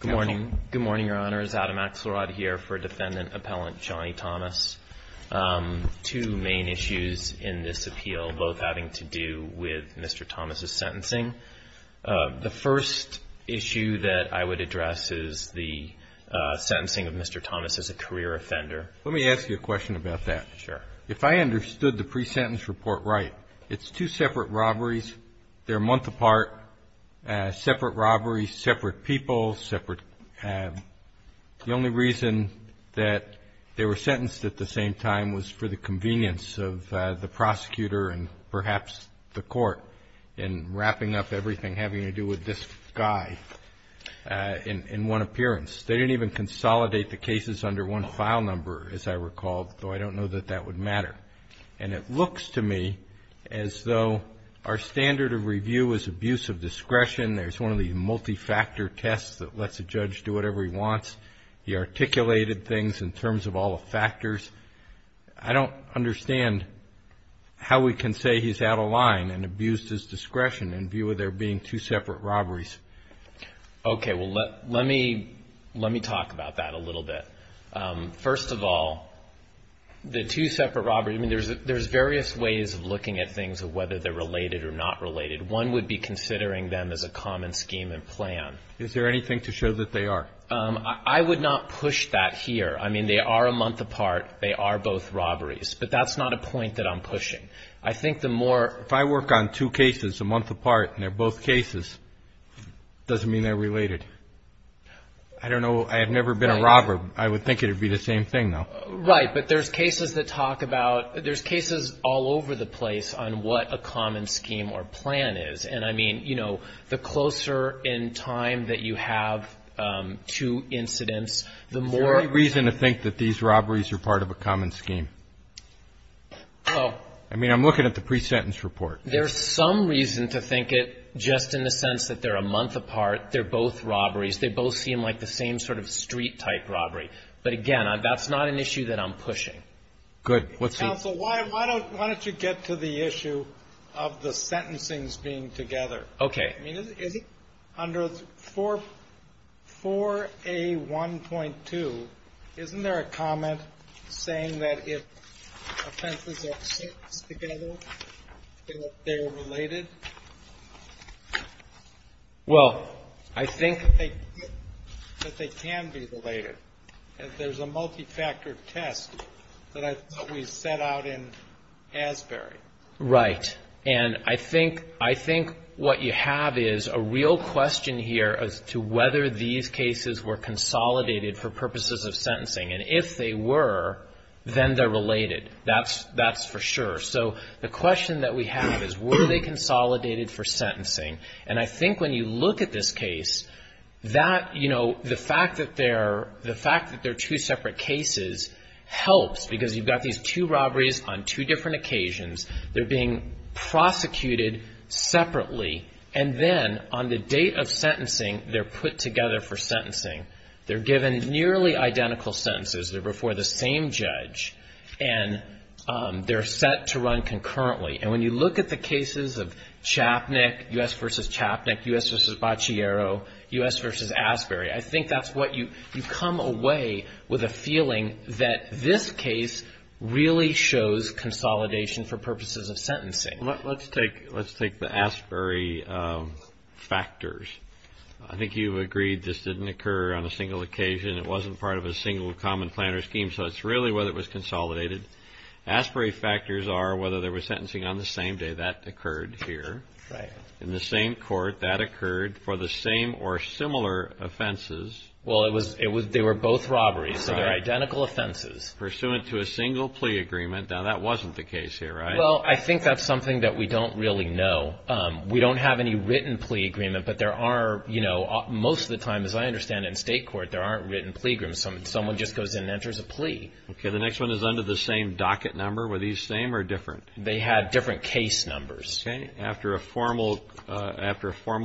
Good morning, your honor. It's Adam Axelrod here for defendant appellant Johnny Thomas. Two main issues in this appeal, both having to do with Mr. Thomas' sentencing. The first issue that I would address is the sentencing of Mr. Thomas as a career offender. Let me ask you a question about that. Sure. If I understood the pre-sentence report right, it's two separate robberies. They're a month apart. Separate robberies, separate people. The only reason that they were sentenced at the same time was for the convenience of the prosecutor and perhaps the court in wrapping up everything having to do with this guy in one appearance. They didn't even consolidate the cases under one file number, as I recall, though I don't know that that would matter. And it looks to me as though our standard of review is abuse of discretion. There's one of these multi-factor tests that lets a judge do whatever he wants. He articulated things in terms of all the factors. I don't understand how we can say he's out of line and abused his discretion in view of there being two separate robberies. Okay. Well, let me talk about that a little bit. First of all, the two separate robberies, I mean, there's various ways of looking at things of whether they're related or not related. One would be considering them as a common scheme and plan. Is there anything to show that they are? I would not push that here. I mean, they are a month apart. They are both robberies. But that's not a point that I'm pushing. If I work on two cases a month apart and they're both cases, it doesn't mean they're related. I don't know. I have never been a robber. I would think it would be the same thing, though. Right. But there's cases that talk about, there's cases all over the place on what a common scheme or plan is. And, I mean, you know, the closer in time that you have two incidents, the more. Is there any reason to think that these robberies are part of a common scheme? Oh. I mean, I'm looking at the pre-sentence report. There's some reason to think it just in the sense that they're a month apart. They're both robberies. They both seem like the same sort of street-type robbery. But, again, that's not an issue that I'm pushing. Good. Counsel, why don't you get to the issue of the sentencings being together? Okay. Under 4A1.2, isn't there a comment saying that if offenses are sentenced together, that they're related? Well, I think that they can be related. There's a multi-factor test that I thought we set out in Asbury. Right. And I think what you have is a real question here as to whether these cases were consolidated for purposes of sentencing. And if they were, then they're related. That's for sure. So the question that we have is were they consolidated for sentencing? And I think when you look at this case, that, you know, the fact that they're two separate cases helps. Because you've got these two robberies on two different occasions. They're being prosecuted separately. And then on the date of sentencing, they're put together for sentencing. They're given nearly identical sentences. They're before the same judge. And they're set to run concurrently. And when you look at the cases of Chapnick, U.S. v. Chapnick, U.S. v. Baciero, U.S. v. Asbury, I think that's what you come away with a feeling that this case really shows consolidation for purposes of sentencing. Let's take the Asbury factors. I think you've agreed this didn't occur on a single occasion. It wasn't part of a single common planner scheme. So it's really whether it was consolidated. Asbury factors are whether there was sentencing on the same day. That occurred here. Right. In the same court, that occurred for the same or similar offenses. Well, they were both robberies. So they're identical offenses. Pursuant to a single plea agreement. Now, that wasn't the case here, right? Well, I think that's something that we don't really know. We don't have any written plea agreement. But there are, you know, most of the time, as I understand it, in state court, there aren't written plea agreements. Someone just goes in and enters a plea. Okay. The next one is under the same docket number. Were these same or different? They had different case numbers. Okay. After a formal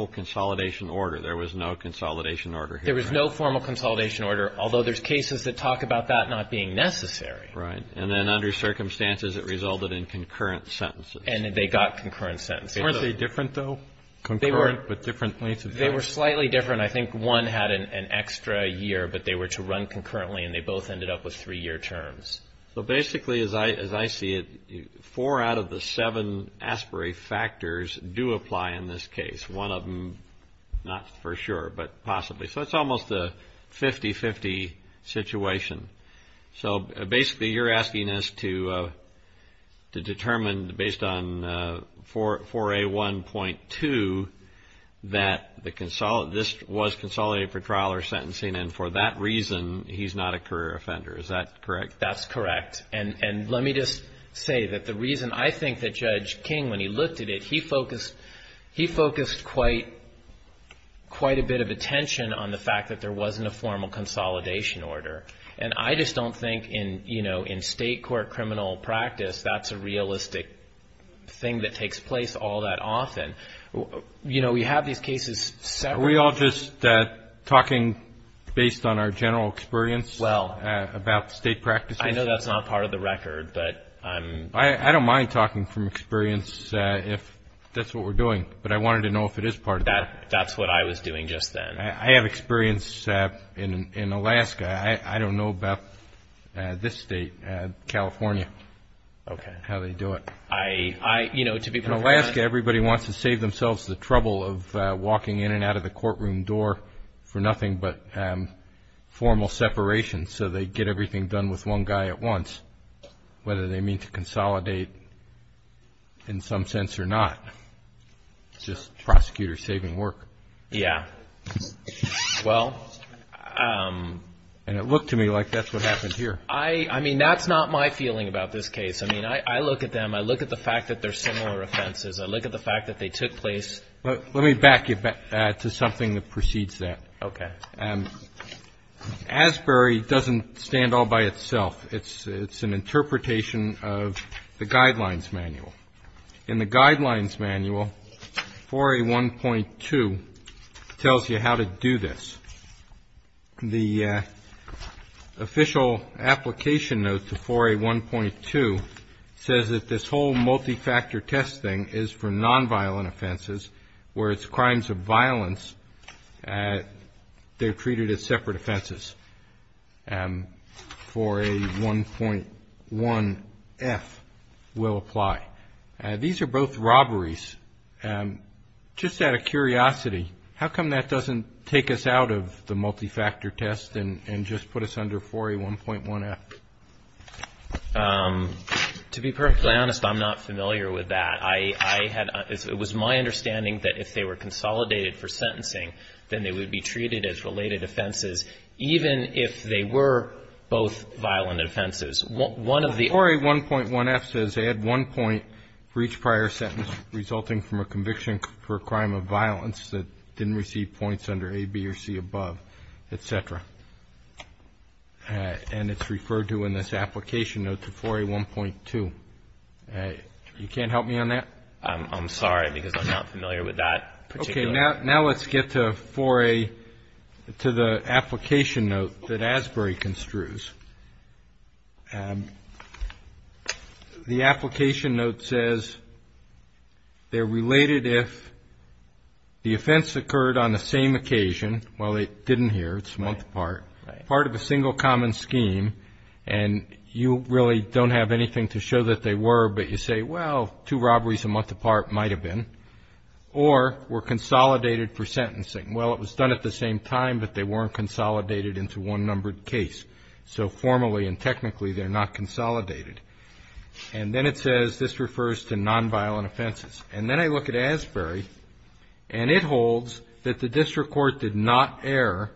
consolidation order. There was no consolidation order here. There was no formal consolidation order. Although there's cases that talk about that not being necessary. Right. And then under circumstances, it resulted in concurrent sentences. And they got concurrent sentences. Weren't they different, though? They were slightly different. I think one had an extra year, but they were to run concurrently. And they both ended up with three-year terms. So basically, as I see it, four out of the seven ASPERI factors do apply in this case. One of them, not for sure, but possibly. So it's almost a 50-50 situation. So basically, you're asking us to determine, based on 4A1.2, that this was consolidated for trial or sentencing. And for that reason, he's not a career offender. Is that correct? That's correct. And let me just say that the reason I think that Judge King, when he looked at it, he focused quite a bit of attention on the fact that there wasn't a formal consolidation order. And I just don't think, you know, in state court criminal practice, that's a realistic thing that takes place all that often. You know, we have these cases separate. Are we all just talking based on our general experience about state practices? I know that's not part of the record. I don't mind talking from experience if that's what we're doing, but I wanted to know if it is part of that. That's what I was doing just then. I have experience in Alaska. I don't know about this state, California, how they do it. In Alaska, everybody wants to save themselves the trouble of walking in and out of the courtroom door for nothing but formal separation, so they get everything done with one guy at once, whether they mean to consolidate in some sense or not. It's just prosecutor saving work. Yeah. Well. And it looked to me like that's what happened here. I mean, that's not my feeling about this case. I mean, I look at them. I look at the fact that they're similar offenses. I look at the fact that they took place. Let me back you back to something that precedes that. Okay. Asbury doesn't stand all by itself. It's an interpretation of the Guidelines Manual. In the Guidelines Manual, 4A1.2 tells you how to do this. The official application note to 4A1.2 says that this whole multifactor testing is for nonviolent offenses, where it's crimes of violence, they're treated as separate offenses. 4A1.1F will apply. These are both robberies. Just out of curiosity, how come that doesn't take us out of the multifactor test and just put us under 4A1.1F? To be perfectly honest, I'm not familiar with that. It was my understanding that if they were consolidated for sentencing, then they would be treated as related offenses, even if they were both violent offenses. 4A1.1F says add one point for each prior sentence resulting from a conviction for a crime of violence that didn't receive points under A, B, or C above, et cetera. And it's referred to in this application note to 4A1.2. You can't help me on that? I'm sorry because I'm not familiar with that particular. Okay, now let's get to 4A, to the application note that ASBRE construes. The application note says they're related if the offense occurred on the same occasion, well, it didn't here, it's a month apart, part of a single common scheme, and you really don't have anything to show that they were, but you say, well, two robberies a month apart might have been, or were consolidated for sentencing. Well, it was done at the same time, but they weren't consolidated into one numbered case. So formally and technically they're not consolidated. And then it says this refers to nonviolent offenses. And then I look at ASBRE, and it holds that the district court did not err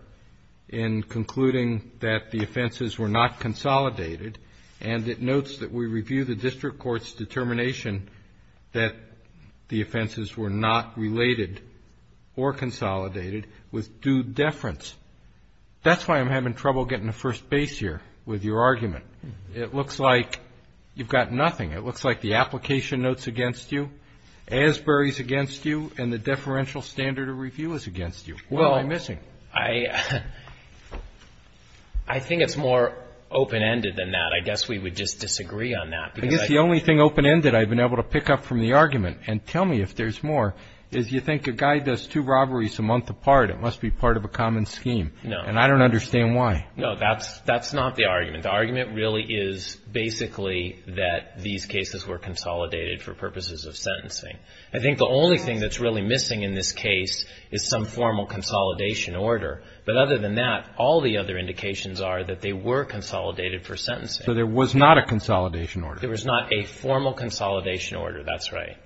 in concluding that the offenses were not consolidated, and it notes that we review the district court's determination that the offenses were not related or consolidated with due deference. That's why I'm having trouble getting to first base here with your argument. It looks like you've got nothing. It looks like the application note's against you, ASBRE's against you, and the deferential standard of review is against you. What am I missing? I think it's more open-ended than that. I guess we would just disagree on that. I guess the only thing open-ended I've been able to pick up from the argument, and tell me if there's more, is you think a guy does two robberies a month apart, it must be part of a common scheme. No. And I don't understand why. No, that's not the argument. The argument really is basically that these cases were consolidated for purposes of sentencing. I think the only thing that's really missing in this case is some formal consolidation order. But other than that, all the other indications are that they were consolidated for sentencing. So there was not a consolidation order. There was not a formal consolidation order. That's right.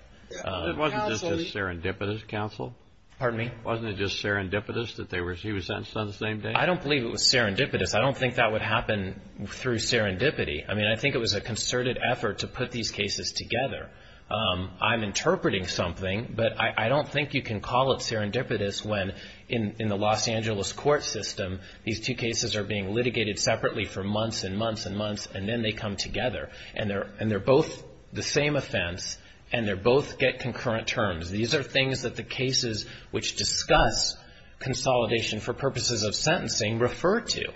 Wasn't it just serendipitous, counsel? Pardon me? Wasn't it just serendipitous that he was sentenced on the same day? I don't believe it was serendipitous. I don't think that would happen through serendipity. I mean, I think it was a concerted effort to put these cases together. I'm interpreting something, but I don't think you can call it serendipitous when, in the Los Angeles court system, these two cases are being litigated separately for months and months and months, and then they come together. And they're both the same offense, and they both get concurrent terms. These are things that the cases which discuss consolidation for purposes of sentencing refer to.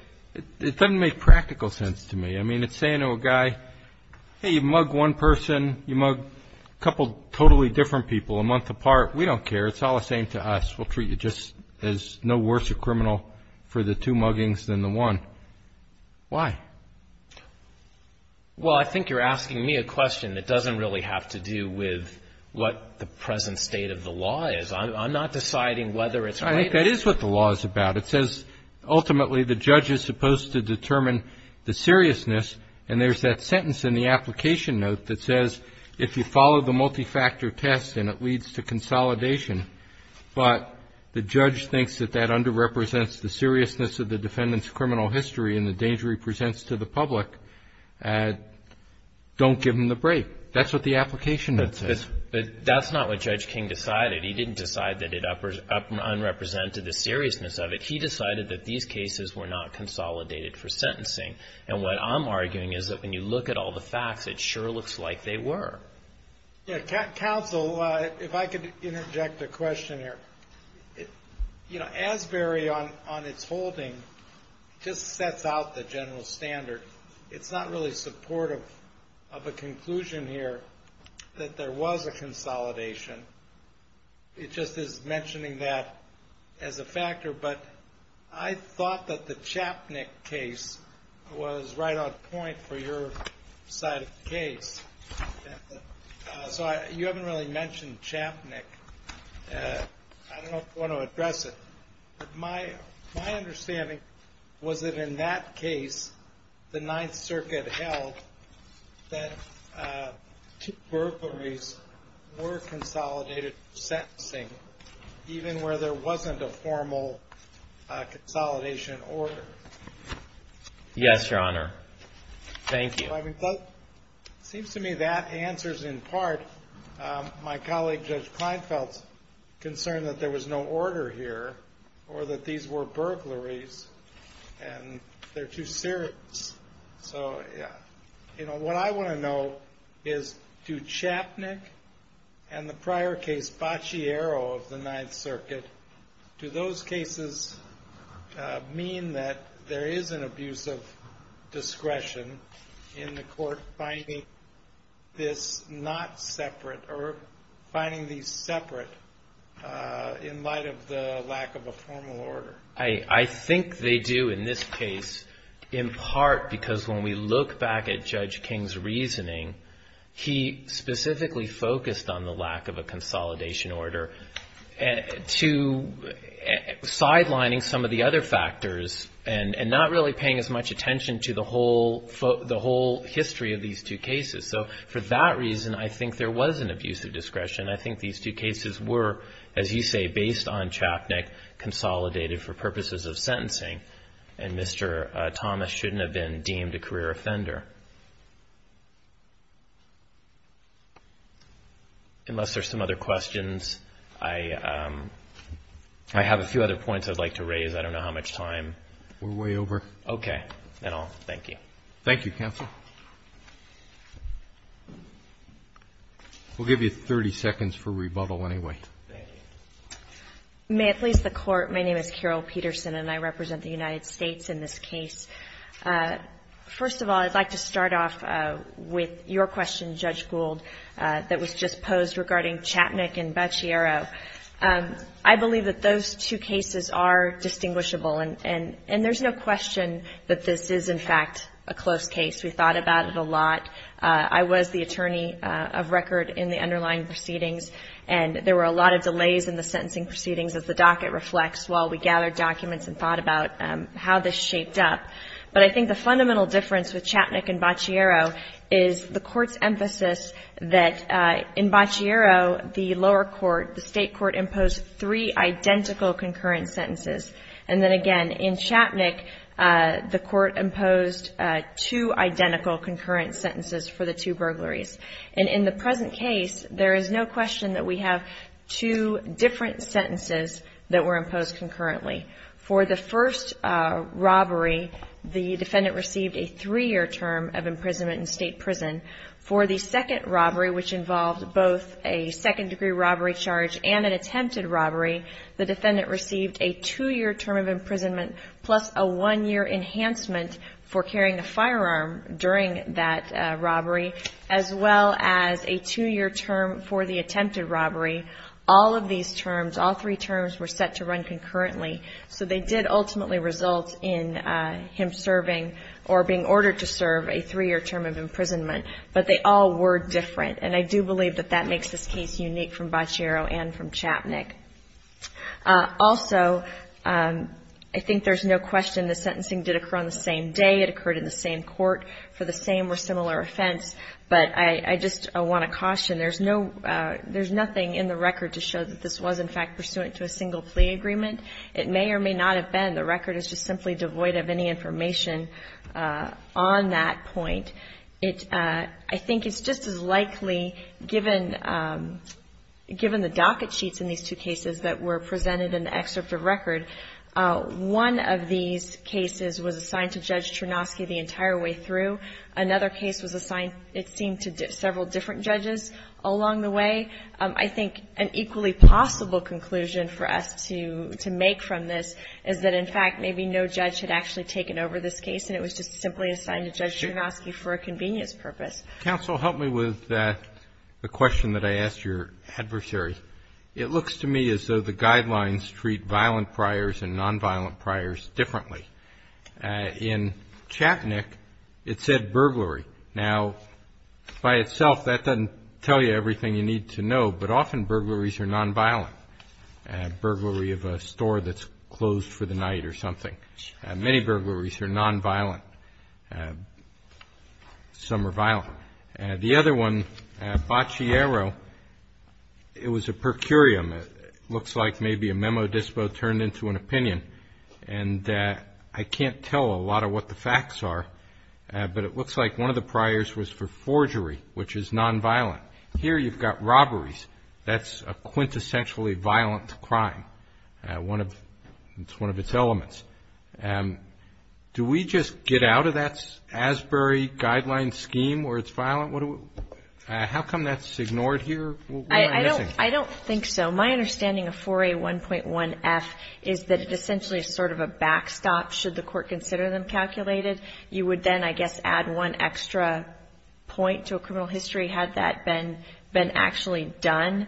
It doesn't make practical sense to me. I mean, it's saying to a guy, hey, you mug one person, you mug a couple totally different people a month apart. We don't care. It's all the same to us. We'll treat you just as no worse a criminal for the two muggings than the one. Why? Well, I think you're asking me a question that doesn't really have to do with what the present state of the law is. I'm not deciding whether it's right. I think that is what the law is about. It says, ultimately, the judge is supposed to determine the seriousness, and there's that sentence in the application note that says, if you follow the multifactor test and it leads to consolidation, but the judge thinks that that underrepresents the seriousness of the defendant's criminal history and the danger he presents to the public, don't give him the break. That's what the application note says. But that's not what Judge King decided. He didn't decide that it unrepresented the seriousness of it. He decided that these cases were not consolidated for sentencing. And what I'm arguing is that when you look at all the facts, it sure looks like they were. Counsel, if I could interject a question here. Asbury, on its holding, just sets out the general standard. It's not really supportive of a conclusion here that there was a consolidation. It just is mentioning that as a factor. But I thought that the Chapnick case was right on point for your side of the case. So you haven't really mentioned Chapnick. I don't know if you want to address it. My understanding was that in that case, the Ninth Circuit held that two peripheries were consolidated for sentencing, even where there wasn't a formal consolidation order. Yes, Your Honor. Thank you. It seems to me that answers, in part, my colleague Judge Kleinfeld's concern that there was no order here or that these were burglaries and they're too serious. So what I want to know is, do Chapnick and the prior case, Baciero of the Ninth Circuit, do those cases mean that there is an abuse of discretion in the court finding this not separate or finding these separate in light of the lack of a formal order? I think they do in this case, in part, because when we look back at Judge King's reasoning, he specifically focused on the lack of a consolidation order to sidelining some of the other factors and not really paying as much attention to the whole history of these two cases. So for that reason, I think there was an abuse of discretion. I think these two cases were, as you say, based on Chapnick, consolidated for purposes of sentencing, and Mr. Thomas shouldn't have been deemed a career offender. Unless there's some other questions, I have a few other points I'd like to raise. I don't know how much time. We're way over. Okay. Then I'll thank you. Thank you, counsel. We'll give you 30 seconds for rebuttal anyway. Thank you. May it please the Court, my name is Carol Peterson and I represent the United States in this case. First of all, I'd like to start off with your question, Judge Gould, that was just posed regarding Chapnick and Baciero. I believe that those two cases are distinguishable, and there's no question that this is, in fact, a close case. We thought about it a lot. I was the attorney of record in the underlying proceedings, and there were a lot of delays in the sentencing proceedings, as the docket reflects, while we gathered documents and thought about how this shaped up. But I think the fundamental difference with Chapnick and Baciero is the Court's emphasis that in Baciero, the lower court, the state court, imposed three identical concurrent sentences. And then again, in Chapnick, the Court imposed two identical concurrent sentences for the two burglaries. And in the present case, there is no question that we have two different sentences that were imposed concurrently. For the first robbery, the defendant received a three-year term of imprisonment in state prison. For the second robbery, which involved both a second-degree robbery charge and an attempted robbery, the defendant received a two-year term of imprisonment plus a one-year enhancement for carrying a firearm during that robbery, as well as a two-year term for the attempted robbery. All of these terms, all three terms, were set to run concurrently. So they did ultimately result in him serving or being ordered to serve a three-year term of imprisonment. But they all were different. And I do believe that that makes this case unique from Baciero and from Chapnick. Also, I think there's no question the sentencing did occur on the same day. It occurred in the same court for the same or similar offense. But I just want to caution. There's nothing in the record to show that this was, in fact, pursuant to a single plea agreement. It may or may not have been. The record is just simply devoid of any information on that point. It – I think it's just as likely, given the docket sheets in these two cases that were presented in the excerpt of record, one of these cases was assigned to Judge Chernosky the entire way through. Another case was assigned, it seemed, to several different judges along the way. I think an equally possible conclusion for us to make from this is that, in fact, maybe no judge had actually taken over this case and it was just simply assigned to Judge Chernosky for a convenience purpose. Counsel, help me with the question that I asked your adversary. It looks to me as though the guidelines treat violent priors and nonviolent priors differently. In Chapnick, it said burglary. Now, by itself, that doesn't tell you everything you need to know, but often burglaries are nonviolent, burglary of a store that's closed for the night or something. Many burglaries are nonviolent. Some are violent. The other one, Baciero, it was a per curiam. It looks like maybe a memo dispo turned into an opinion, and I can't tell a lot of what the facts are, but it looks like one of the priors was for forgery, which is nonviolent. Here you've got robberies. That's a quintessentially violent crime. It's one of its elements. Do we just get out of that Asbury guideline scheme where it's violent? How come that's ignored here? I don't think so. My understanding of 4A1.1F is that it essentially is sort of a backstop should the court consider them calculated. You would then, I guess, add one extra point to a criminal history had that been actually done.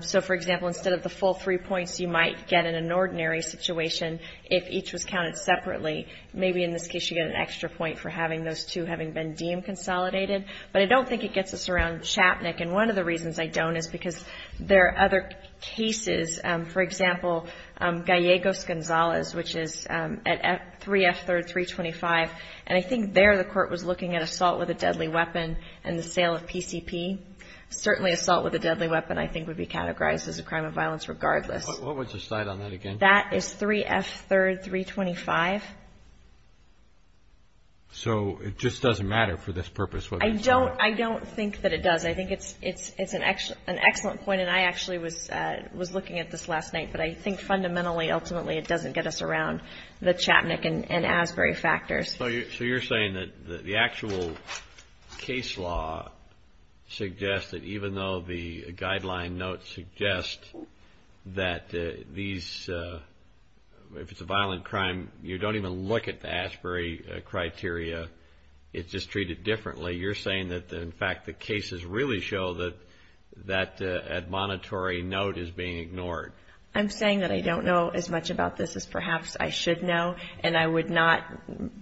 So, for example, instead of the full three points you might get in an ordinary situation if each was counted separately. Maybe in this case you get an extra point for having those two having been deemed consolidated. But I don't think it gets us around Chapnick, and one of the reasons I don't is because there are other cases. For example, Gallegos-Gonzalez, which is at 3F3rd, 325. And I think there the court was looking at assault with a deadly weapon and the sale of PCP. Certainly assault with a deadly weapon I think would be categorized as a crime of violence regardless. What was the site on that again? That is 3F3rd, 325. So it just doesn't matter for this purpose? I don't think that it does. I think it's an excellent point, and I actually was looking at this last night. But I think fundamentally, ultimately, it doesn't get us around the Chapnick and Asbury factors. So you're saying that the actual case law suggests that even though the guideline notes suggest that these, if it's a violent crime, you don't even look at the Asbury criteria. It's just treated differently. You're saying that, in fact, the cases really show that that admonitory note is being ignored. I'm saying that I don't know as much about this as perhaps I should know, and I would not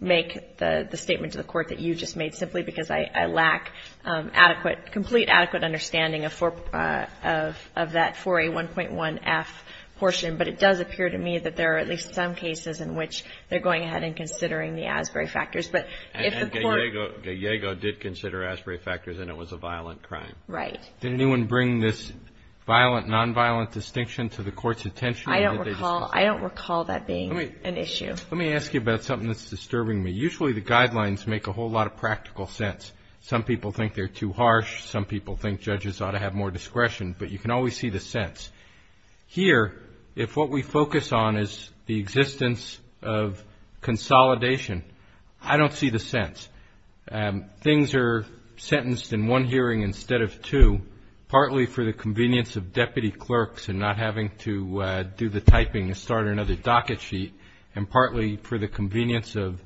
make the statement to the court that you just made simply because I lack adequate, complete adequate understanding of that 4A1.1F portion. But it does appear to me that there are at least some cases in which they're going ahead and considering the Asbury factors. But if the court ---- And Gallego did consider Asbury factors and it was a violent crime. Right. Did anyone bring this violent, nonviolent distinction to the court's attention? I don't recall that being an issue. Let me ask you about something that's disturbing me. Usually the guidelines make a whole lot of practical sense. Some people think they're too harsh. Some people think judges ought to have more discretion. But you can always see the sense. Here, if what we focus on is the existence of consolidation, I don't see the sense. Things are sentenced in one hearing instead of two, partly for the convenience of deputy clerks and not having to do the typing to start another docket sheet, and partly for the convenience of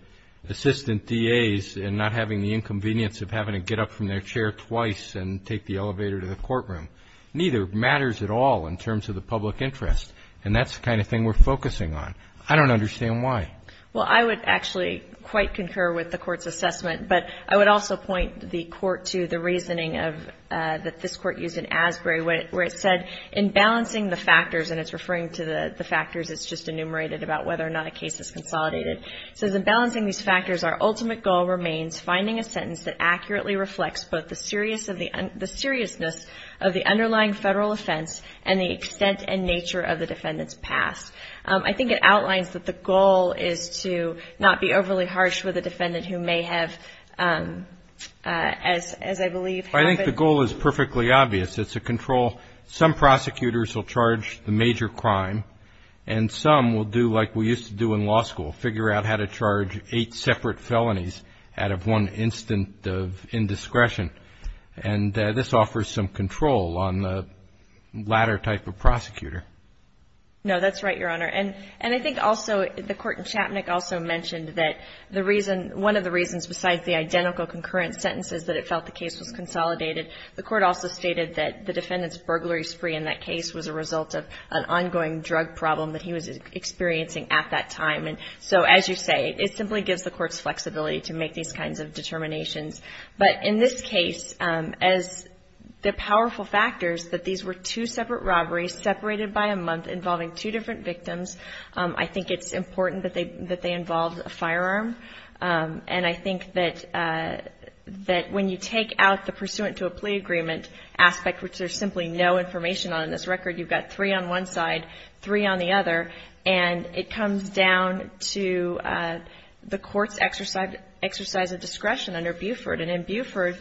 assistant DAs and not having the inconvenience of having to get up from their chair twice and take the elevator to the courtroom. Neither matters at all in terms of the public interest. And that's the kind of thing we're focusing on. I don't understand why. Well, I would actually quite concur with the Court's assessment. But I would also point the Court to the reasoning of ---- that this Court used in Asbury where it said in balancing the factors, and it's referring to the factors that's just enumerated about whether or not a case is consolidated. It says, In balancing these factors, our ultimate goal remains finding a sentence that accurately reflects both the seriousness of the underlying Federal offense and the extent and nature of the defendant's past. I think it outlines that the goal is to not be overly harsh with a defendant who may have, as I believe, I think the goal is perfectly obvious. It's a control. Some prosecutors will charge the major crime, and some will do like we used to do in law school, figure out how to charge eight separate felonies out of one instant of indiscretion. And this offers some control on the latter type of prosecutor. No, that's right, Your Honor. And I think also the Court in Chapnick also mentioned that the reason, one of the reasons besides the identical concurrent sentences that it felt the case was consolidated, the Court also stated that the defendant's burglary spree in that case was a result of an ongoing drug problem that he was experiencing at that time. And so as you say, it simply gives the Court's flexibility to make these kinds of determinations. But in this case, as the powerful factors that these were two separate robberies separated by a month involving two different victims, I think it's important that they involve a firearm. And I think that when you take out the pursuant to a plea agreement aspect, which there's simply no information on in this record, you've got three on one side, three on the other, and it comes down to the Court's exercise of discretion under Buford. And in Buford,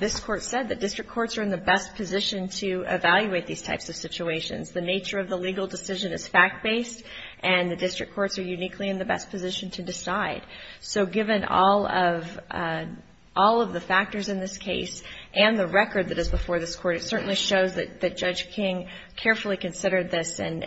this Court said that district courts are in the best position to evaluate these types of situations. The nature of the legal decision is fact-based, and the district courts are uniquely in the best position to decide. So given all of the factors in this case and the record that is before this Court, it certainly shows that Judge King carefully considered this and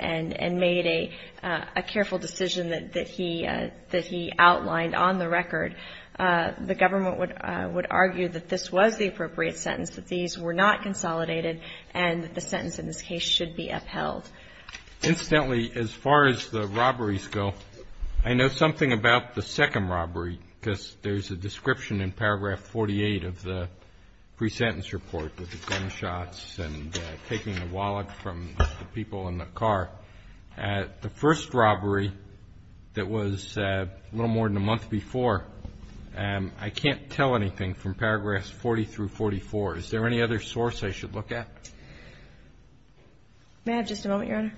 made a careful decision that he outlined on the record. The government would argue that this was the appropriate sentence, that these were not consolidated, and that the sentence in this case should be upheld. Incidentally, as far as the robberies go, I know something about the second robbery, because there's a description in paragraph 48 of the pre-sentence report with the gunshots and taking the wallet from the people in the car. The first robbery that was a little more than a month before, I can't tell anything from paragraphs 40 through 44. Is there any other source I should look at? May I have just a moment, Your Honor?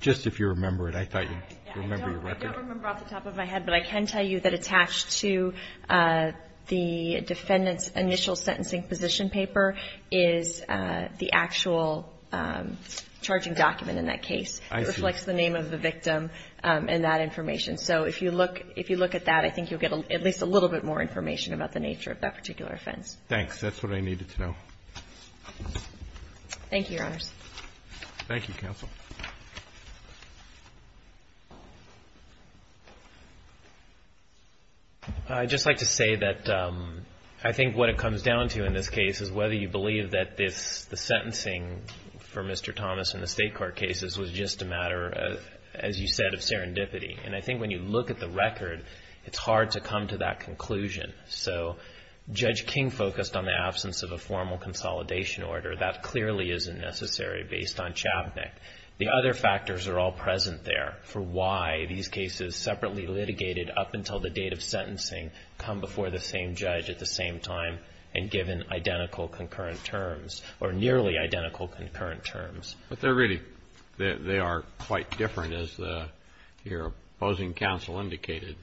Just if you remember it. I thought you'd remember your record. I don't remember off the top of my head, but I can tell you that attached to the defendant's initial sentencing position paper is the actual charging document in that case. I see. It reflects the name of the victim and that information. So if you look at that, I think you'll get at least a little bit more information about the nature of that particular offense. Thanks. That's what I needed to know. Thank you, Your Honors. Thank you, counsel. I'd just like to say that I think what it comes down to in this case is whether you believe that the sentencing for Mr. Thomas in the state court cases was just a matter, as you said, of serendipity. And I think when you look at the record, it's hard to come to that conclusion. So Judge King focused on the absence of a formal consolidation order. That clearly isn't necessary based on Chavnik. The other factors are all present there for why these cases separately litigated up until the date of sentencing come before the same judge at the same time and given identical concurrent terms or nearly identical concurrent terms. But they're really, they are quite different, as your opposing counsel indicated.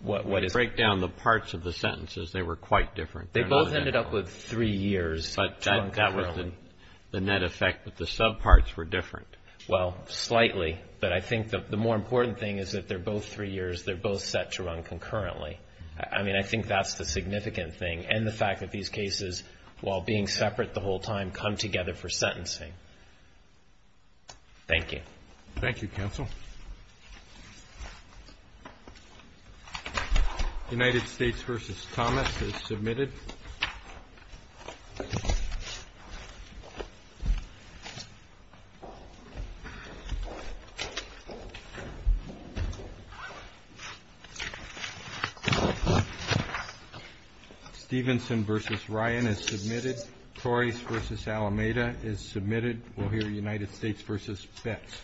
What is? When you break down the parts of the sentences, they were quite different. They're not identical. They both ended up with three years to run concurrently. But that was the net effect, but the subparts were different. Well, slightly. But I think the more important thing is that they're both three years. They're both set to run concurrently. I mean, I think that's the significant thing. And the fact that these cases, while being separate the whole time, come together for sentencing. Thank you. Thank you, counsel. United States v. Thomas is submitted. Stevenson v. Ryan is submitted. Torres v. Alameda is submitted. We'll hear United States v. Betz. Thank you.